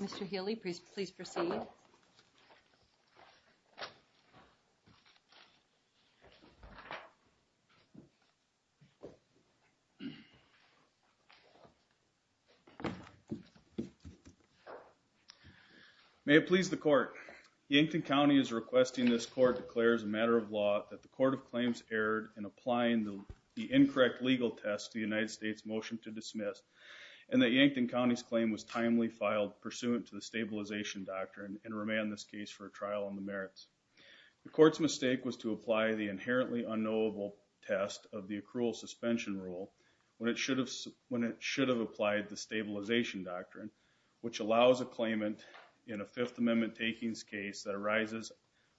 Mr. Healy, please proceed. May it please the court. Yankton County is requesting this court declare as a matter of law that the Court of Claims erred in applying the incorrect legal test to the United States motion to dismiss and that Yankton County's claim was timely filed pursuant to the stabilization doctrine and demand this case for a trial on the merits. The court's mistake was to apply the inherently unknowable test of the accrual suspension rule when it should have applied the stabilization doctrine, which allows a claimant in a Fifth Amendment takings case that arises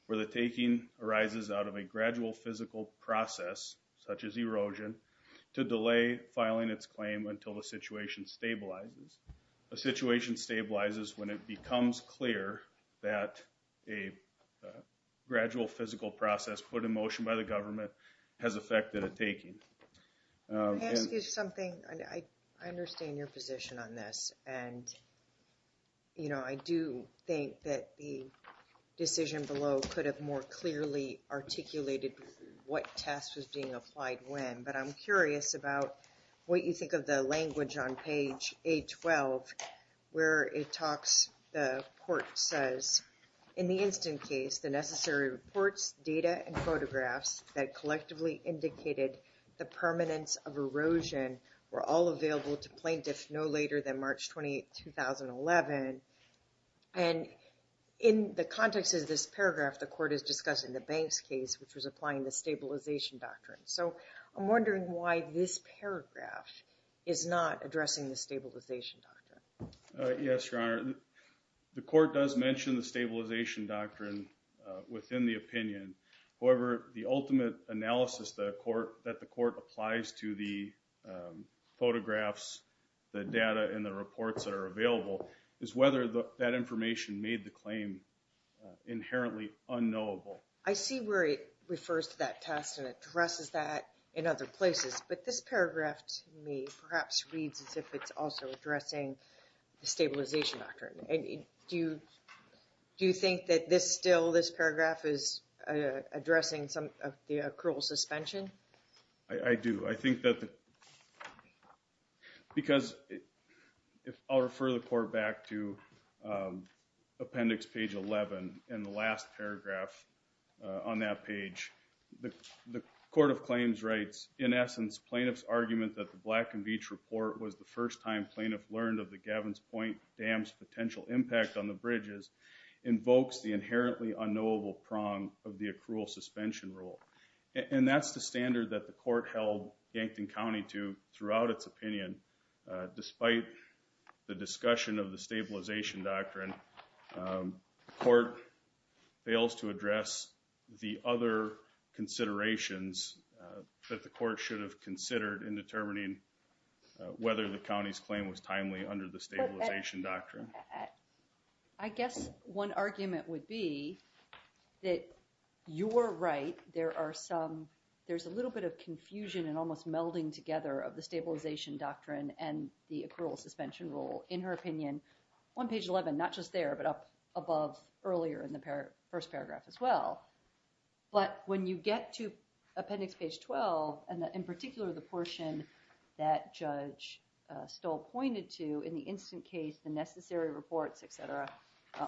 where the taking arises out of a gradual physical process such as erosion to delay filing its claim until the situation stabilizes. A situation stabilizes when it becomes clear that a gradual physical process put in motion by the government has affected a taking. I understand your position on this and I do think that the decision below could have more clearly articulated what test was being applied when, but I'm curious about what you think of the language on page 812 where it talks, the court says, in the instant case, the necessary reports, data, and photographs that collectively indicated the permanence of erosion were all available to plaintiffs no later than March 28, 2011. And in the context of this paragraph, the court is discussing the Banks case, which was applying the stabilization doctrine. So I'm wondering why this paragraph is not addressing the stabilization doctrine. Yes, Your Honor, the court does mention the stabilization doctrine within the opinion. However, the ultimate analysis that the court applies to the photographs, the data, and the reports that are available is whether that information made the claim inherently unknowable. I see where it refers to that test and addresses that in other places, but this paragraph to me perhaps reads as if it's also addressing the stabilization doctrine. And do you think that this still, this paragraph is addressing some of the accrual suspension? I do. I think that the, because if I'll refer the court back to Appendix Page 11 in the last paragraph on that page, the Court of Claims writes, in essence, plaintiff's argument that the Black & Veatch report was the first time plaintiff learned of the Gavin's Point Dam's potential impact on the bridges invokes the inherently unknowable prong of the accrual suspension rule. And that's the standard that the court held Yankton County to throughout its opinion. Despite the discussion of the stabilization doctrine, the court fails to address the other considerations that the court should have considered in determining whether the county's claim was timely under the stabilization doctrine. I guess one argument would be that you're right, there are some, there's a little bit of confusion and almost melding together of the stabilization doctrine and the accrual suspension rule. In her opinion, on page 11, not just there, but up above earlier in the first paragraph as well. But when you get to Appendix Page 12, and in particular, the portion that Judge Stoll pointed to in the instant case, the necessary reports, et cetera,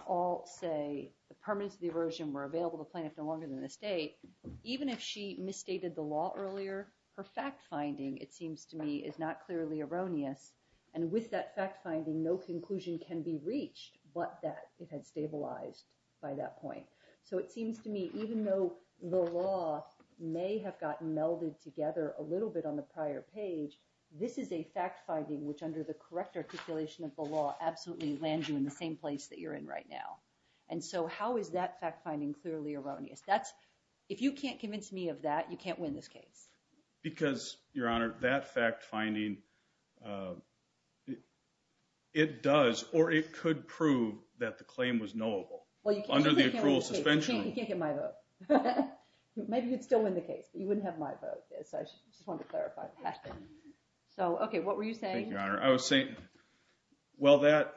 all say the permanence of the aversion were available to plaintiff no longer than the state, even if she misstated the law earlier, her fact-finding, it seems to me, is not clearly erroneous. And with that fact-finding, no conclusion can be reached but that it had stabilized by that point. So it seems to me, even though the law may have gotten melded together a little bit on the prior page, this is a fact-finding which, under the correct articulation of the law, absolutely lands you in the same place that you're in right now. And so how is that fact-finding clearly erroneous? If you can't convince me of that, you can't win this case. Because, Your Honor, that fact-finding, it does, or it could prove that the claim was knowable under the accrual suspension. You can't get my vote. Maybe you'd still win the case, but you wouldn't have my vote. So I just wanted to clarify that. So, okay, what were you saying? Thank you, Your Honor. I was saying, while that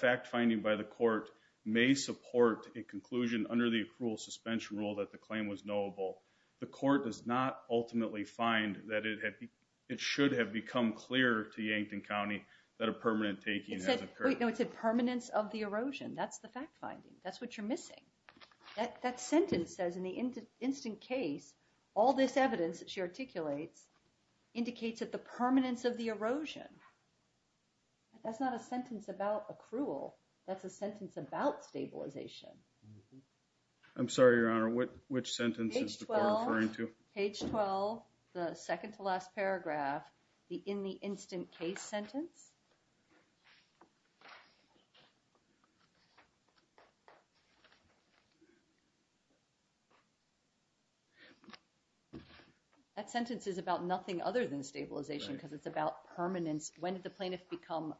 fact-finding by the court may support a conclusion under the accrual suspension rule that the claim was knowable, the court does not ultimately find that it should have become clear to Yankton County that a permanent taking has occurred. No, it said permanence of the erosion. That's the fact-finding. That's what you're missing. That sentence says in the instant case, all this evidence that she articulates indicates that the permanence of the erosion. That's not a sentence about accrual. That's a sentence about stabilization. I'm sorry, Your Honor, which sentence is the court referring to? Page 12, the second to last paragraph, the in the instant case sentence. That sentence is about nothing other than stabilization because it's about permanence. When did the plaintiff become,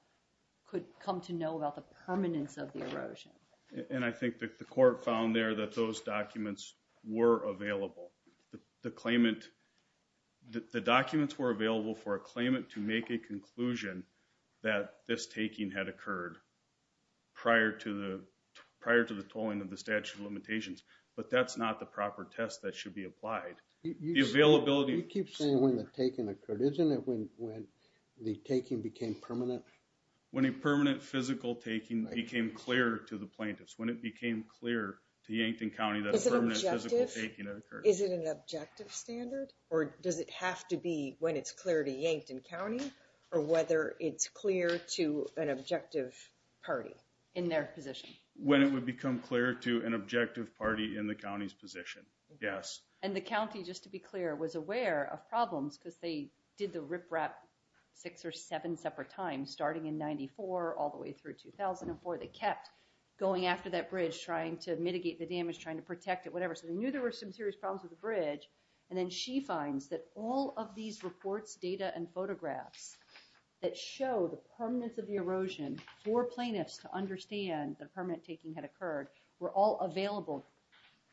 could come to know about the permanence of the erosion? And I think that the court found there that those documents were available. The claimant, the documents were available for a claimant to make a conclusion that this taking had occurred prior to the tolling of the statute of limitations. But that's not the proper test that should be applied. The availability... You keep saying when the taking occurred. Isn't it when the taking became permanent? When a permanent physical taking became clear to the plaintiffs, when it became clear to Yankton County that a permanent physical taking had occurred. Is it an objective standard or does it have to be when it's clear to Yankton County or whether it's clear to an objective party in their position? When it would become clear to an objective party in the county's position, yes. And the county, just to be clear, was aware of problems because they did the riprap six or seven separate times, starting in 94 all the way through 2004. They kept going after that bridge, trying to mitigate the damage, trying to protect it, whatever. So they knew there were some serious problems with the bridge. And then she finds that all of these reports, data, and photographs that show the permanence of the erosion for plaintiffs to understand that a permanent taking had occurred were all available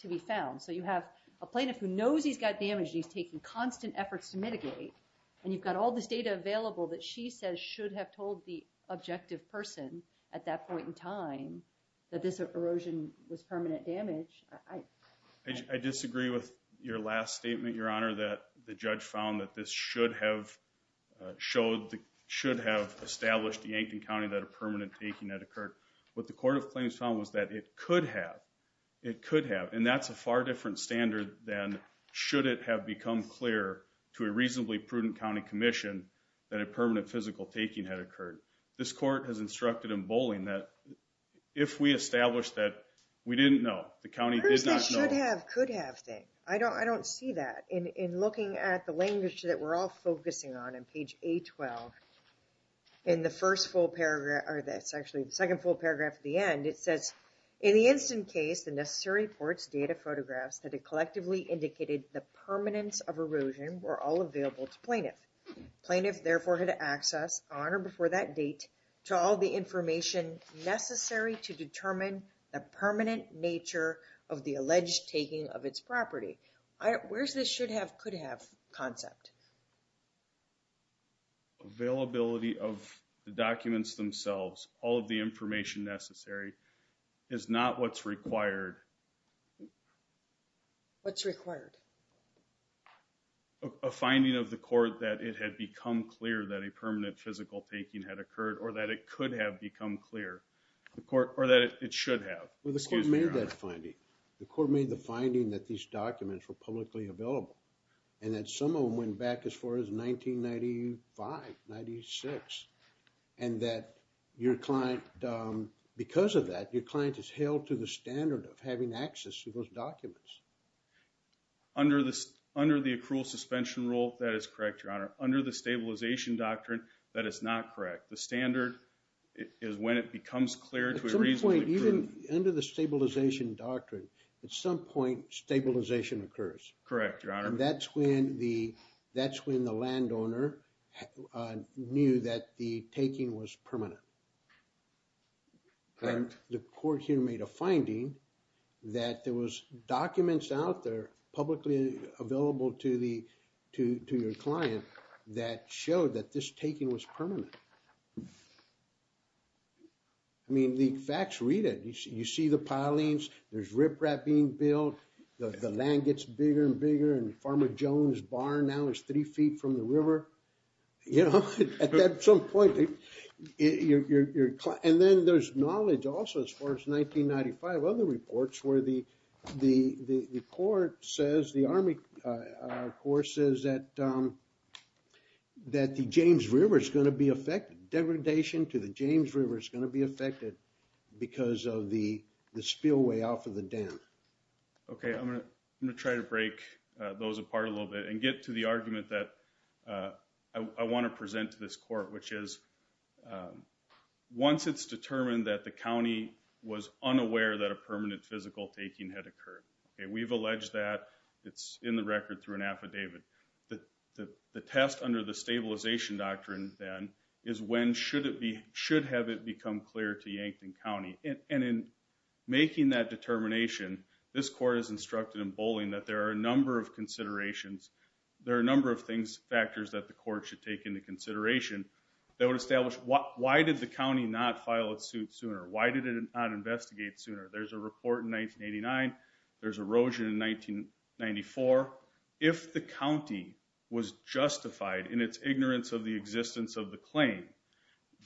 to be found. So you have a plaintiff who knows he's got damage. He's taking constant efforts to mitigate. And you've got all this data available that she says should have told the objective person at that point in time that this erosion was permanent damage. I disagree with your last statement, Your Honor, that the judge found that this should have established to Yankton County that a permanent taking had occurred. What the court of claims found was that it could have. It could have. And that's a far different standard than should it have become clear to a reasonably prudent county commission that a permanent physical taking had occurred. This court has instructed in bowling that if we establish that we didn't know, the county did not know. Should have, could have thing. I don't see that. In looking at the language that we're all focusing on on page A12, in the first full paragraph, or that's actually the second full paragraph at the end, it says, in the instant case, the necessary reports, data, photographs that had collectively indicated the permanence of erosion were all available to plaintiff. Plaintiff therefore had access on or before that date to all the information necessary to determine the permanent nature of the alleged taking of its property. Where's this should have, could have concept? Availability of the documents themselves, all of the information necessary is not what's required. What's required? A finding of the court that it had become clear that a permanent physical taking had occurred or that it could have become clear, or that it should have. Well, the court made that finding. The court made the finding that these documents were publicly available and that some of them went back as far as 1995, 96, and that your client, because of that, your client is held to the standard of having access to those documents. Under the accrual suspension rule, that is correct, Your Honor. Under the stabilization doctrine, that is not correct. The standard is when it becomes clear to a reasonable group. Even under the stabilization doctrine, at some point, stabilization occurs. Correct, Your Honor. That's when the, that's when the landowner knew that the taking was permanent. Correct. The court here made a finding that there was documents out there publicly available to the, to your client that showed that this taking was permanent. I mean, the facts read it. You see the pilings, there's riprap being built, the land gets bigger and bigger, and Farmer Jones Barn now is three feet from the river. You know, at some point, you're, and then there's knowledge also as far as 1995, other reports where the, the court says, the Army court says that, that the James River is going to be affected. Degradation to the James River is going to be affected because of the spillway off of the dam. Okay, I'm going to try to break those apart a little bit and get to the argument that I want to present to this court, which is, once it's determined that the county was unaware that a permanent physical taking had occurred. Okay, we've alleged that. It's in the record through an affidavit. The test under the stabilization doctrine then is when should it be, should have it become clear to Yankton County. And in making that determination, this court is instructed in bowling that there are a number of considerations. There are a number of things, factors that the court should take into consideration that would establish why did the county not file a suit sooner? Why did it not investigate sooner? There's a report in 1989. There's erosion in 1994. If the county was justified in its ignorance of the existence of the claim,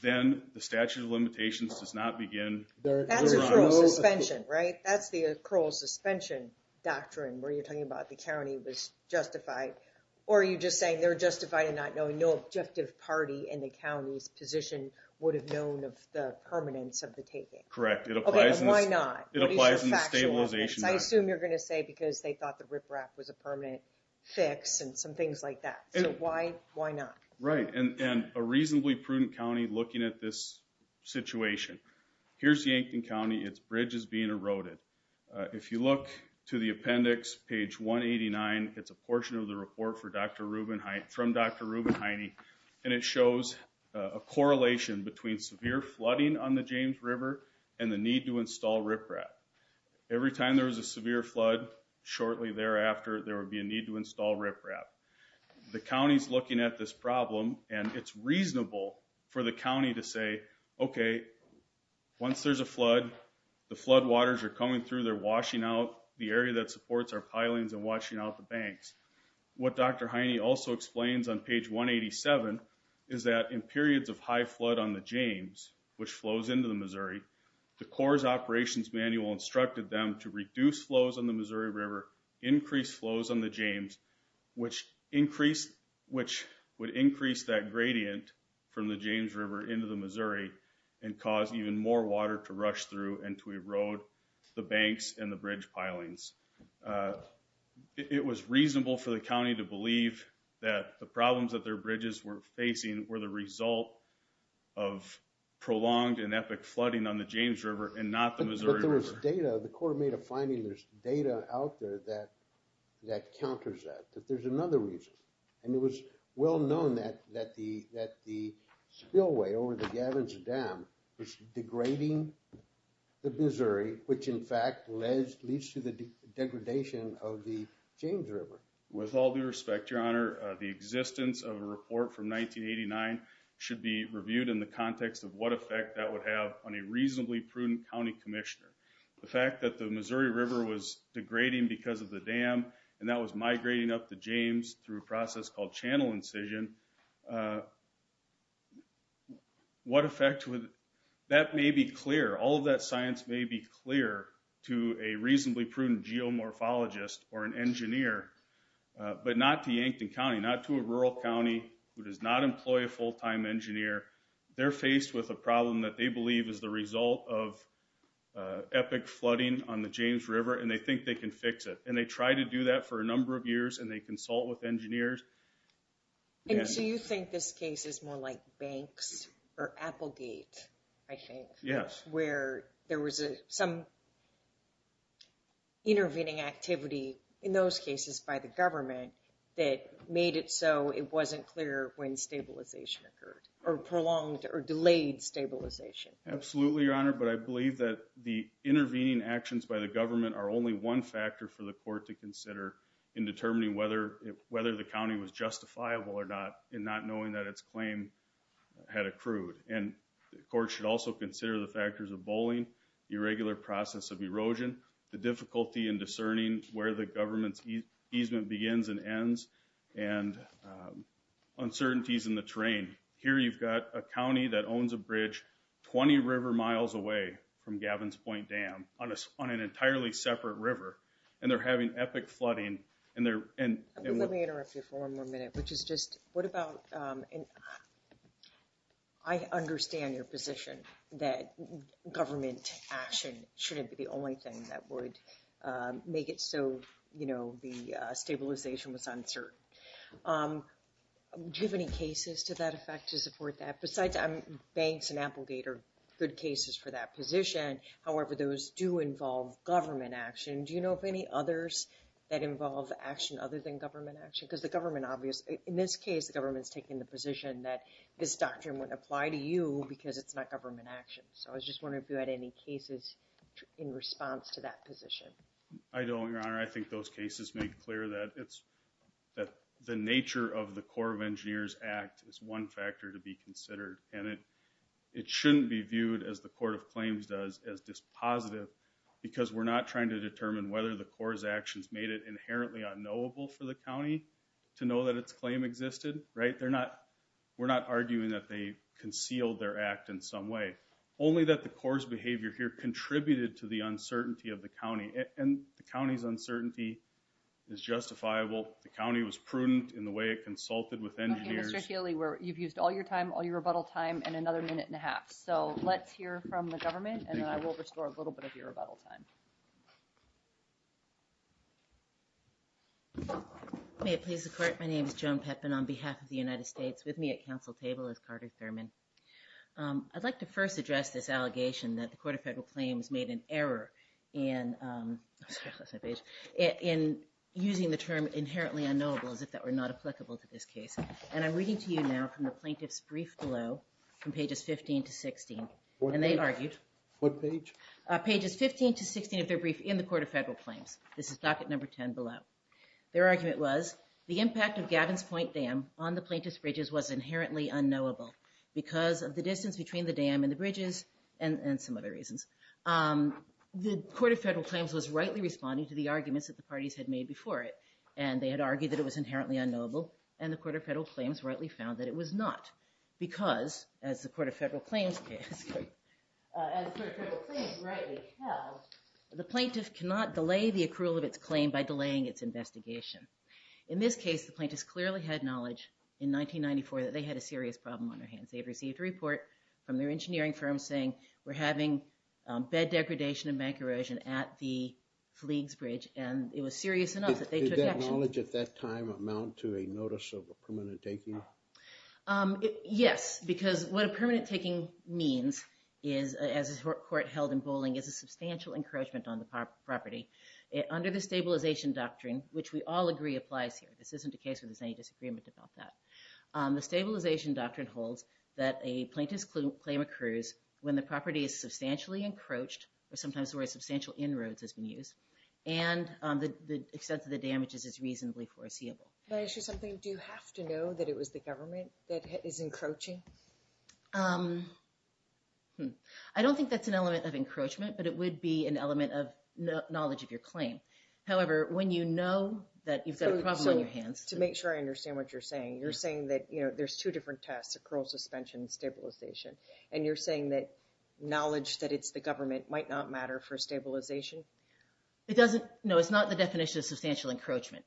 then the statute of limitations does not begin. That's accrual suspension, right? That's the accrual suspension doctrine where you're talking about the county was justified. Or are you just saying they're justified in not knowing? No objective party in the county's position would have known of the permanence of the taking. Correct. Okay, why not? It applies in the stabilization doctrine. I assume you're going to say because they thought the riprap was a permanent fix and some things like that. So why not? Right, and a reasonably prudent county looking at this situation. Here's Yankton County, its bridge is being eroded. If you look to the appendix, page 189, it's a portion of the report from Dr. Rubenheine, and it shows a correlation between severe flooding on the James River and the need to install riprap. Every time there was a severe flood, shortly thereafter, there would be a need to install riprap. The county's looking at this problem, and it's reasonable for the county to say, okay, once there's a flood, the floodwaters are coming through, they're washing out the area that supports our pilings and washing out the banks. What Dr. Heine also explains on page 187 is that in periods of high flood on the James, which flows into the Missouri, the Corps' operations manual instructed them to reduce flows on the Missouri River, increase flows on the James, which would increase that gradient from the James River into the Missouri, and cause even more water to rush through and to erode the banks and the bridge pilings. It was reasonable for the county to believe that the problems that their bridges were facing were the result of prolonged and epic flooding on the James River and not the Missouri River. But there was data, the Corps made a finding, there's data out there that counters that, that there's another reason. And it was well known that the spillway over the Gavin's Dam was degrading the Missouri, which in fact leads to the degradation of the James River. With all due respect, Your Honor, the existence of a report from 1989 should be reviewed in the context of what effect that would have on a reasonably prudent county commissioner. The fact that the Missouri River was degrading because of the dam and that was migrating up the James through a process called channel incision, what effect would, that may be clear, all of that science may be clear to a reasonably prudent geomorphologist or an engineer, but not to Yankton County, not to a rural county who does not employ a full-time engineer. They're faced with a problem that they believe is the result of epic flooding on the James River and they think they can fix it. And they try to do that for a number of years and they consult with engineers. And so you think this case is more like Banks or Applegate, I think, where there was some intervening activity. In those cases by the government that made it so it wasn't clear when stabilization occurred or prolonged or delayed stabilization. Absolutely, Your Honor, but I believe that the intervening actions by the government are only one factor for the court to consider in determining whether the county was justifiable or not and not knowing that its claim had accrued. And the court should also consider the factors of bullying, irregular process of erosion, the difficulty in discerning where the government's easement begins and ends, and uncertainties in the terrain. Here you've got a county that owns a bridge 20 river miles away from Gavin's Point Dam on an entirely separate river and they're having epic flooding. Let me interrupt you for one more minute. I understand your position that government action shouldn't be the only thing that would make it so the stabilization was uncertain. Do you have any cases to that effect to support that? Besides Banks and Applegate are good cases for that position, however, those do involve government action. Do you know of any others that involve action other than government action? Because the government obviously, in this case, the government's taking the position that this doctrine wouldn't apply to you because it's not government action. So I was just wondering if you had any cases in response to that position. I don't, Your Honor. I think those cases make clear that the nature of the Corps of Engineers Act is one factor to be considered. And it shouldn't be viewed, as the Court of Claims does, as dispositive because we're not trying to determine whether the Corps' actions made it inherently unknowable for the county to know that its claim existed, right? We're not arguing that they concealed their act in some way. Only that the Corps' behavior here contributed to the uncertainty of the county. And the county's uncertainty is justifiable. The county was prudent in the way it consulted with engineers. Okay, Mr. Healy, you've used all your time, all your rebuttal time, and another minute and a half. So let's hear from the government and then I will restore a little bit of your rebuttal time. May it please the Court, my name is Joan Pepin on behalf of the United States. With me at council table is Carter Thurman. I'd like to first address this allegation that the Court of Federal Claims made an error in using the term inherently unknowable as if that were not applicable to this case. And I'm reading to you now from the plaintiff's brief below from pages 15 to 16. And they argued. What page? Pages 15 to 16 of their brief in the Court of Federal Claims. This is docket number 10 below. Their argument was, the impact of Gavin's Point Dam on the plaintiff's bridges was inherently unknowable because of the distance between the dam and the bridges and some other reasons. The Court of Federal Claims was rightly responding to the arguments that the parties had made before it. And they had argued that it was inherently unknowable and the Court of Federal Claims rightly found that it was not because, as the Court of Federal Claims rightly held, the plaintiff cannot delay the accrual of its claim by delaying its investigation. In this case, the plaintiffs clearly had knowledge in 1994 that they had a serious problem on their hands. They had received a report from their engineering firm saying, we're having bed degradation and bank erosion at the Fleegs Bridge. And it was serious enough that they took action. Did that knowledge at that time amount to a notice of a permanent taking? Yes, because what a permanent taking means as a court held in Bowling is a substantial encroachment on the property. Under the stabilization doctrine, which we all agree applies here. This isn't a case where there's any disagreement about that. The stabilization doctrine holds that a plaintiff's claim occurs when the property is substantially encroached or sometimes the word substantial inroads has been used and the extent of the damages is reasonably foreseeable. Can I ask you something? Do you have to know that it was the government that is encroaching? I don't think that's an element of encroachment, but it would be an element of knowledge of your claim. However, when you know that you've got a problem on your hands. So to make sure I understand what you're saying, you're saying that there's two different tests, accrual, suspension, and stabilization. And you're saying that knowledge that it's the government might not matter for stabilization? It doesn't. No, it's not the definition of substantial encroachment.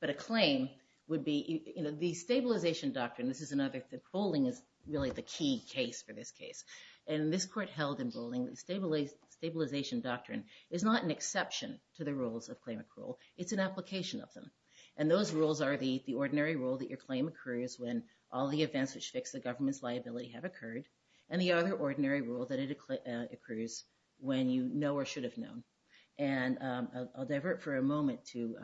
But a claim would be, the stabilization doctrine, this is another, the Bowling is really the key case for this case. And this court held in Bowling that the stabilization doctrine is not an exception to the rules of claim accrual. It's an application of them. And those rules are the ordinary rule that your claim accrues when all the events which fix the government's liability have occurred. And the other ordinary rule that it accrues when you know or should have known. And I'll divert for a moment to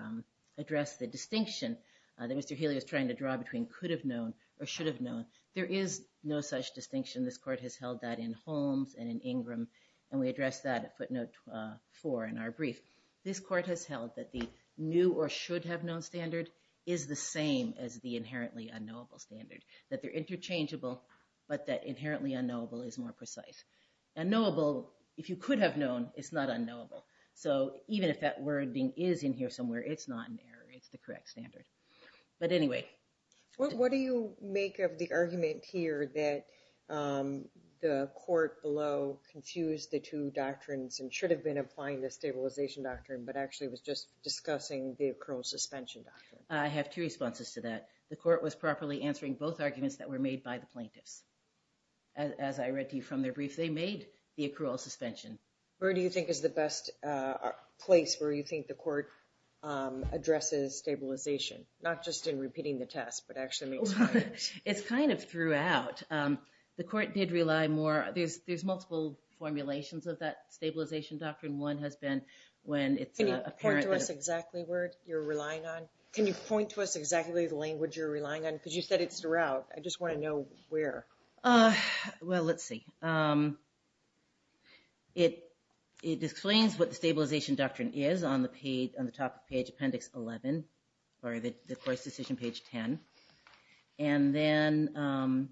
address the distinction that Mr. Haley is trying to draw between could have known or should have known. There is no such distinction. This court has held that in Holmes and in Ingram. And we addressed that at footnote four in our brief. This court has held that the new or should have known standard is the same as the inherently unknowable standard. That they're interchangeable, but that inherently unknowable is more precise. Unknowable, if you could have known, it's not unknowable. So even if that wording is in here somewhere, it's not an error. It's the correct standard. But anyway. What do you make of the argument here that the court below confused the two doctrines and should have been applying the stabilization doctrine, but actually was just discussing the accrual suspension doctrine? I have two responses to that. The court was properly answering both arguments that were made by the plaintiffs. As I read to you from their brief, they made the accrual suspension. Where do you think is the best place where you think the court addresses stabilization? Not just in repeating the test, but actually makes sense. It's kind of throughout. The court did rely more. There's multiple formulations of that stabilization doctrine. One has been when it's apparent that- Can you point to us exactly where you're relying on? Can you point to us exactly the language you're relying on? Because you said it's throughout. I just want to know where. Well, let's see. It explains what the stabilization doctrine is on the top of page appendix 11, or the court's decision page 10. And then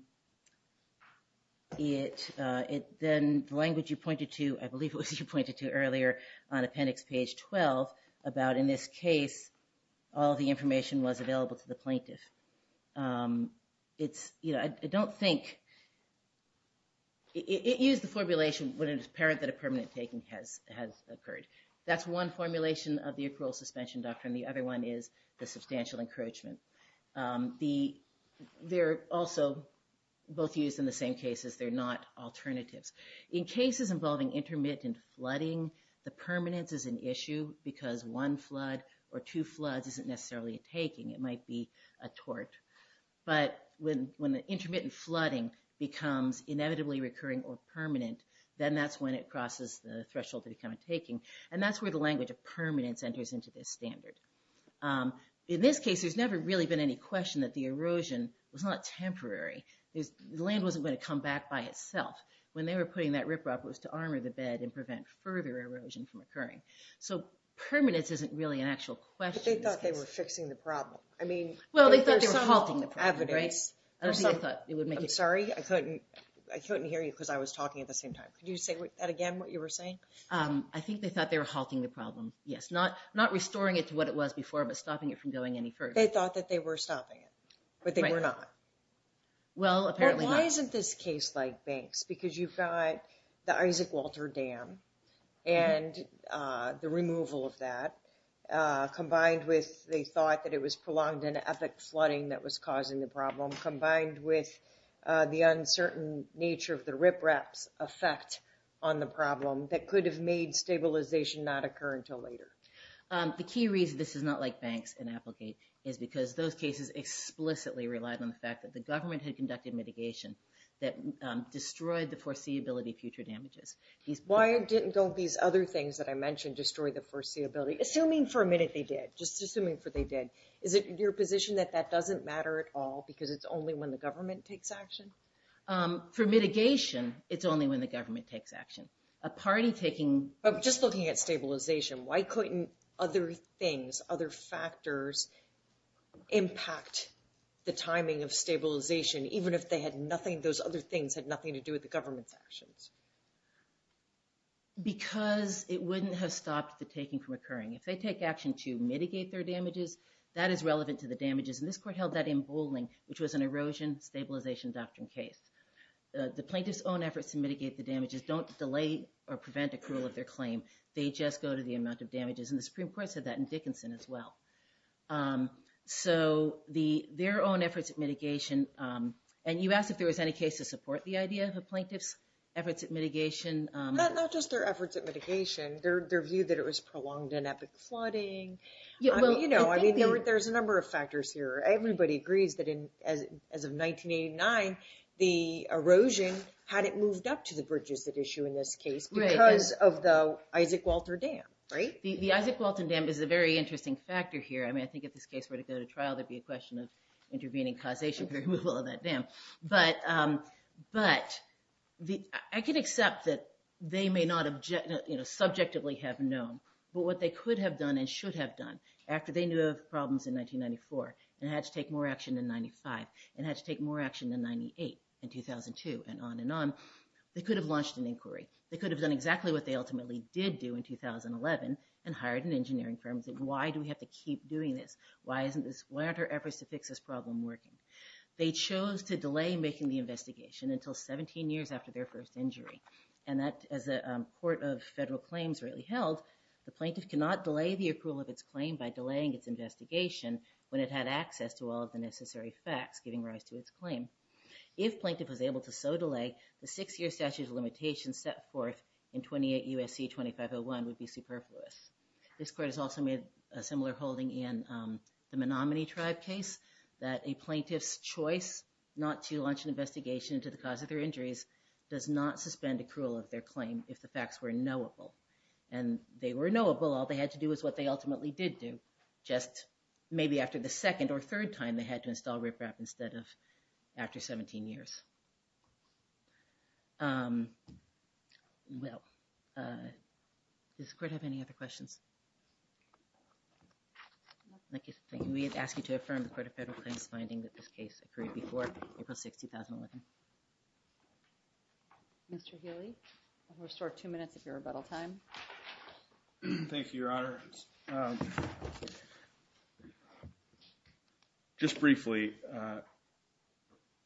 the language you pointed to, I believe it was you pointed to earlier on appendix page 12, about in this case, all the information was available to the plaintiff. It's, you know, I don't think- It used the formulation when it's apparent that a permanent taking has occurred. That's one formulation of the accrual suspension doctrine. The other one is the substantial encroachment. They're also both used in the same cases. They're not alternatives. In cases involving intermittent flooding, the permanence is an issue because one flood or two floods isn't necessarily a taking. It might be a tort. But when the intermittent flooding becomes inevitably recurring or permanent, then that's when it crosses the threshold to become a taking. And that's where the language of permanence enters into this standard. In this case, there's never really been any question that the erosion was not temporary. The land wasn't going to come back by itself. When they were putting that riprap, it was to armor the bed and prevent further erosion from occurring. So permanence isn't really an actual question. But they thought they were fixing the problem. I mean, there's some evidence. Well, they thought they were halting the problem, right? I don't think they thought it would make it- I'm sorry, I couldn't hear you because I was talking at the same time. Could you say that again, what you were saying? I think they thought they were halting the problem. Yes, not restoring it to what it was before, but stopping it from going any further. They thought that they were stopping it, but they were not. Well, apparently not. But why isn't this case like Banks? Because you've got the Isaac Walter Dam and the removal of that, combined with they thought that it was prolonged in epic flooding that was causing the problem, combined with the uncertain nature of the riprap's effect on the problem that could have made stabilization not occur until later. The key reason this is not like Banks and Applegate is because those cases explicitly relied on the fact that the government had conducted mitigation that destroyed the foreseeability future damages. Why didn't all these other things that I mentioned destroy the foreseeability? Assuming for a minute they did, just assuming for they did. Is it your position that that doesn't matter at all because it's only when the government takes action? For mitigation, it's only when the government takes action. A party taking- Just looking at stabilization, why couldn't other things, other factors impact the timing of stabilization even if those other things had nothing to do with the government's actions? Because it wouldn't have stopped the taking from occurring. If they take action to mitigate their damages, that is relevant to the damages. And this court held that in Bowling, which was an erosion stabilization doctrine case. The plaintiff's own efforts to mitigate the damages don't delay or prevent accrual of their claim. They just go to the amount of damages. And the Supreme Court said that in Dickinson as well. So their own efforts at mitigation, and you asked if there was any case to support the idea of a plaintiff's efforts at mitigation. Not just their efforts at mitigation, their view that it was prolonged and epic flooding. There's a number of factors here. Everybody agrees that as of 1989, the erosion hadn't moved up to the bridges that issue in this case because of the Isaac Walter Dam, right? The Isaac Walton Dam is a very interesting factor here. I mean, I think if this case were to go to trial, there'd be a question of intervening causation for removal of that dam. But I can accept that they may not subjectively have known. But what they could have done and should have done after they knew of problems in 1994 and had to take more action in 95 and had to take more action than 98 in 2002 and on and on. They could have launched an inquiry. They could have done exactly what they ultimately did do in 2011 and hired an engineering firm. Why do we have to keep doing this? Why aren't our efforts to fix this problem working? They chose to delay making the investigation until 17 years after their first injury. And that as a court of federal claims really held, the plaintiff cannot delay the approval of its claim by delaying its investigation when it had access to all of the necessary facts giving rise to its claim. If plaintiff was able to so delay, the six-year statute of limitations set forth in 28 U.S.C. 2501 would be superfluous. This court has also made a similar holding in the Menominee Tribe case that a plaintiff's choice not to launch an investigation into the cause of their injuries does not suspend accrual of their claim if the facts were knowable. And they were knowable. All they had to do was what they ultimately did do, just maybe after the second or third time they had to install riprap instead of after 17 years. Um, well, uh, does the court have any other questions? We ask you to affirm the Court of Federal Claims finding that this case occurred before April 6, 2011. Mr. Healy, restore two minutes of your rebuttal time. Thank you, Your Honor. Just briefly, uh,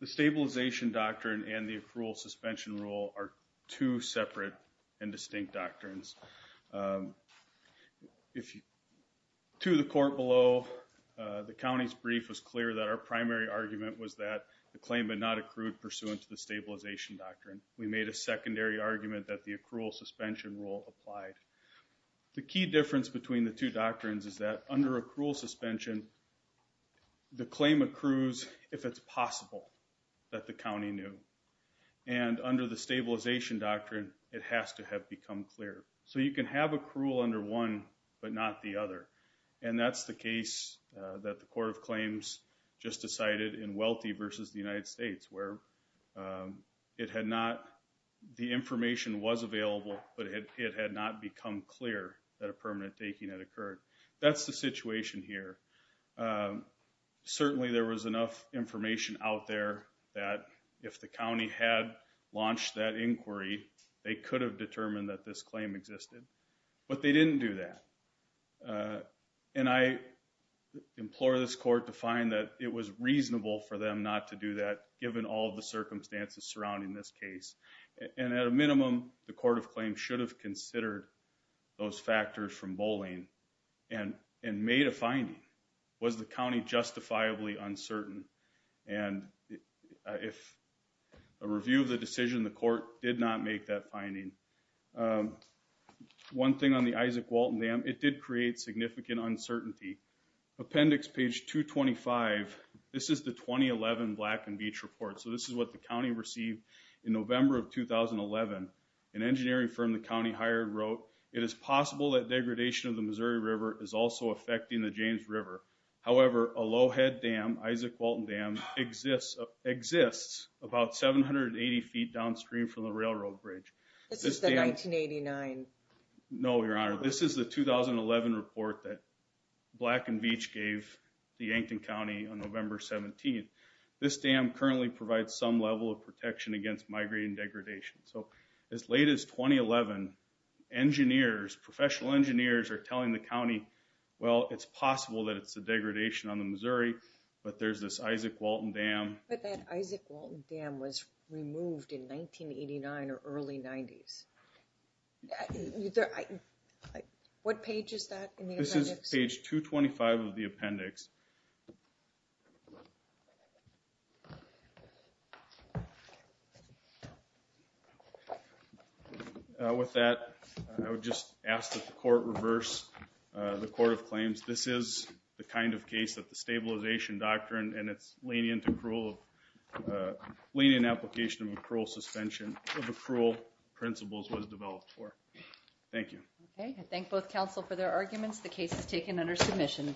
the stabilization doctrine and the accrual suspension rule are two separate and distinct doctrines. If you, to the court below, the county's brief was clear that our primary argument was that the claim had not accrued pursuant to the stabilization doctrine. We made a secondary argument that the accrual suspension rule applied. The key difference between the two doctrines is that under accrual suspension, the claim accrues if it's possible that the county knew. And under the stabilization doctrine, it has to have become clear. So you can have accrual under one but not the other. And that's the case that the Court of Claims just decided in Wealthy versus the United States where it had not, the information was available, but it had not become clear that a permanent taking had occurred. That's the situation here. Um, certainly there was enough information out there that if the county had launched that inquiry, they could have determined that this claim existed. But they didn't do that. And I implore this court to find that it was reasonable for them not to do that given all the circumstances surrounding this case. And at a minimum, the Court of Claims should have considered those factors from bowling and made a finding. Was the county justifiably uncertain? And if a review of the decision, the court did not make that finding. One thing on the Isaac Walton Dam, it did create significant uncertainty. Appendix page 225, this is the 2011 Black and Beach Report. So this is what the county received in November of 2011. An engineering firm the county hired wrote, it is possible that degradation of the Missouri River is also affecting the James River. However, a low head dam, Isaac Walton Dam, exists about 780 feet downstream from the railroad bridge. This is the 1989. No, Your Honor, this is the 2011 report that Black and Beach gave the Yankton County on November 17th. This dam currently provides some level of protection against migrating degradation. So as late as 2011, engineers, professional engineers, are telling the county, well, it's possible that it's a degradation on the Missouri, but there's this Isaac Walton Dam. But that Isaac Walton Dam was removed in 1989 or early 90s. What page is that in the appendix? This is page 225 of the appendix. With that, I would just ask that the court reverse the court of claims. This is the kind of case that the stabilization doctrine and its lenient accrual, lenient application of accrual suspension of accrual principles was developed for. Thank you. Okay, I thank both counsel for their arguments. The case is taken under submission.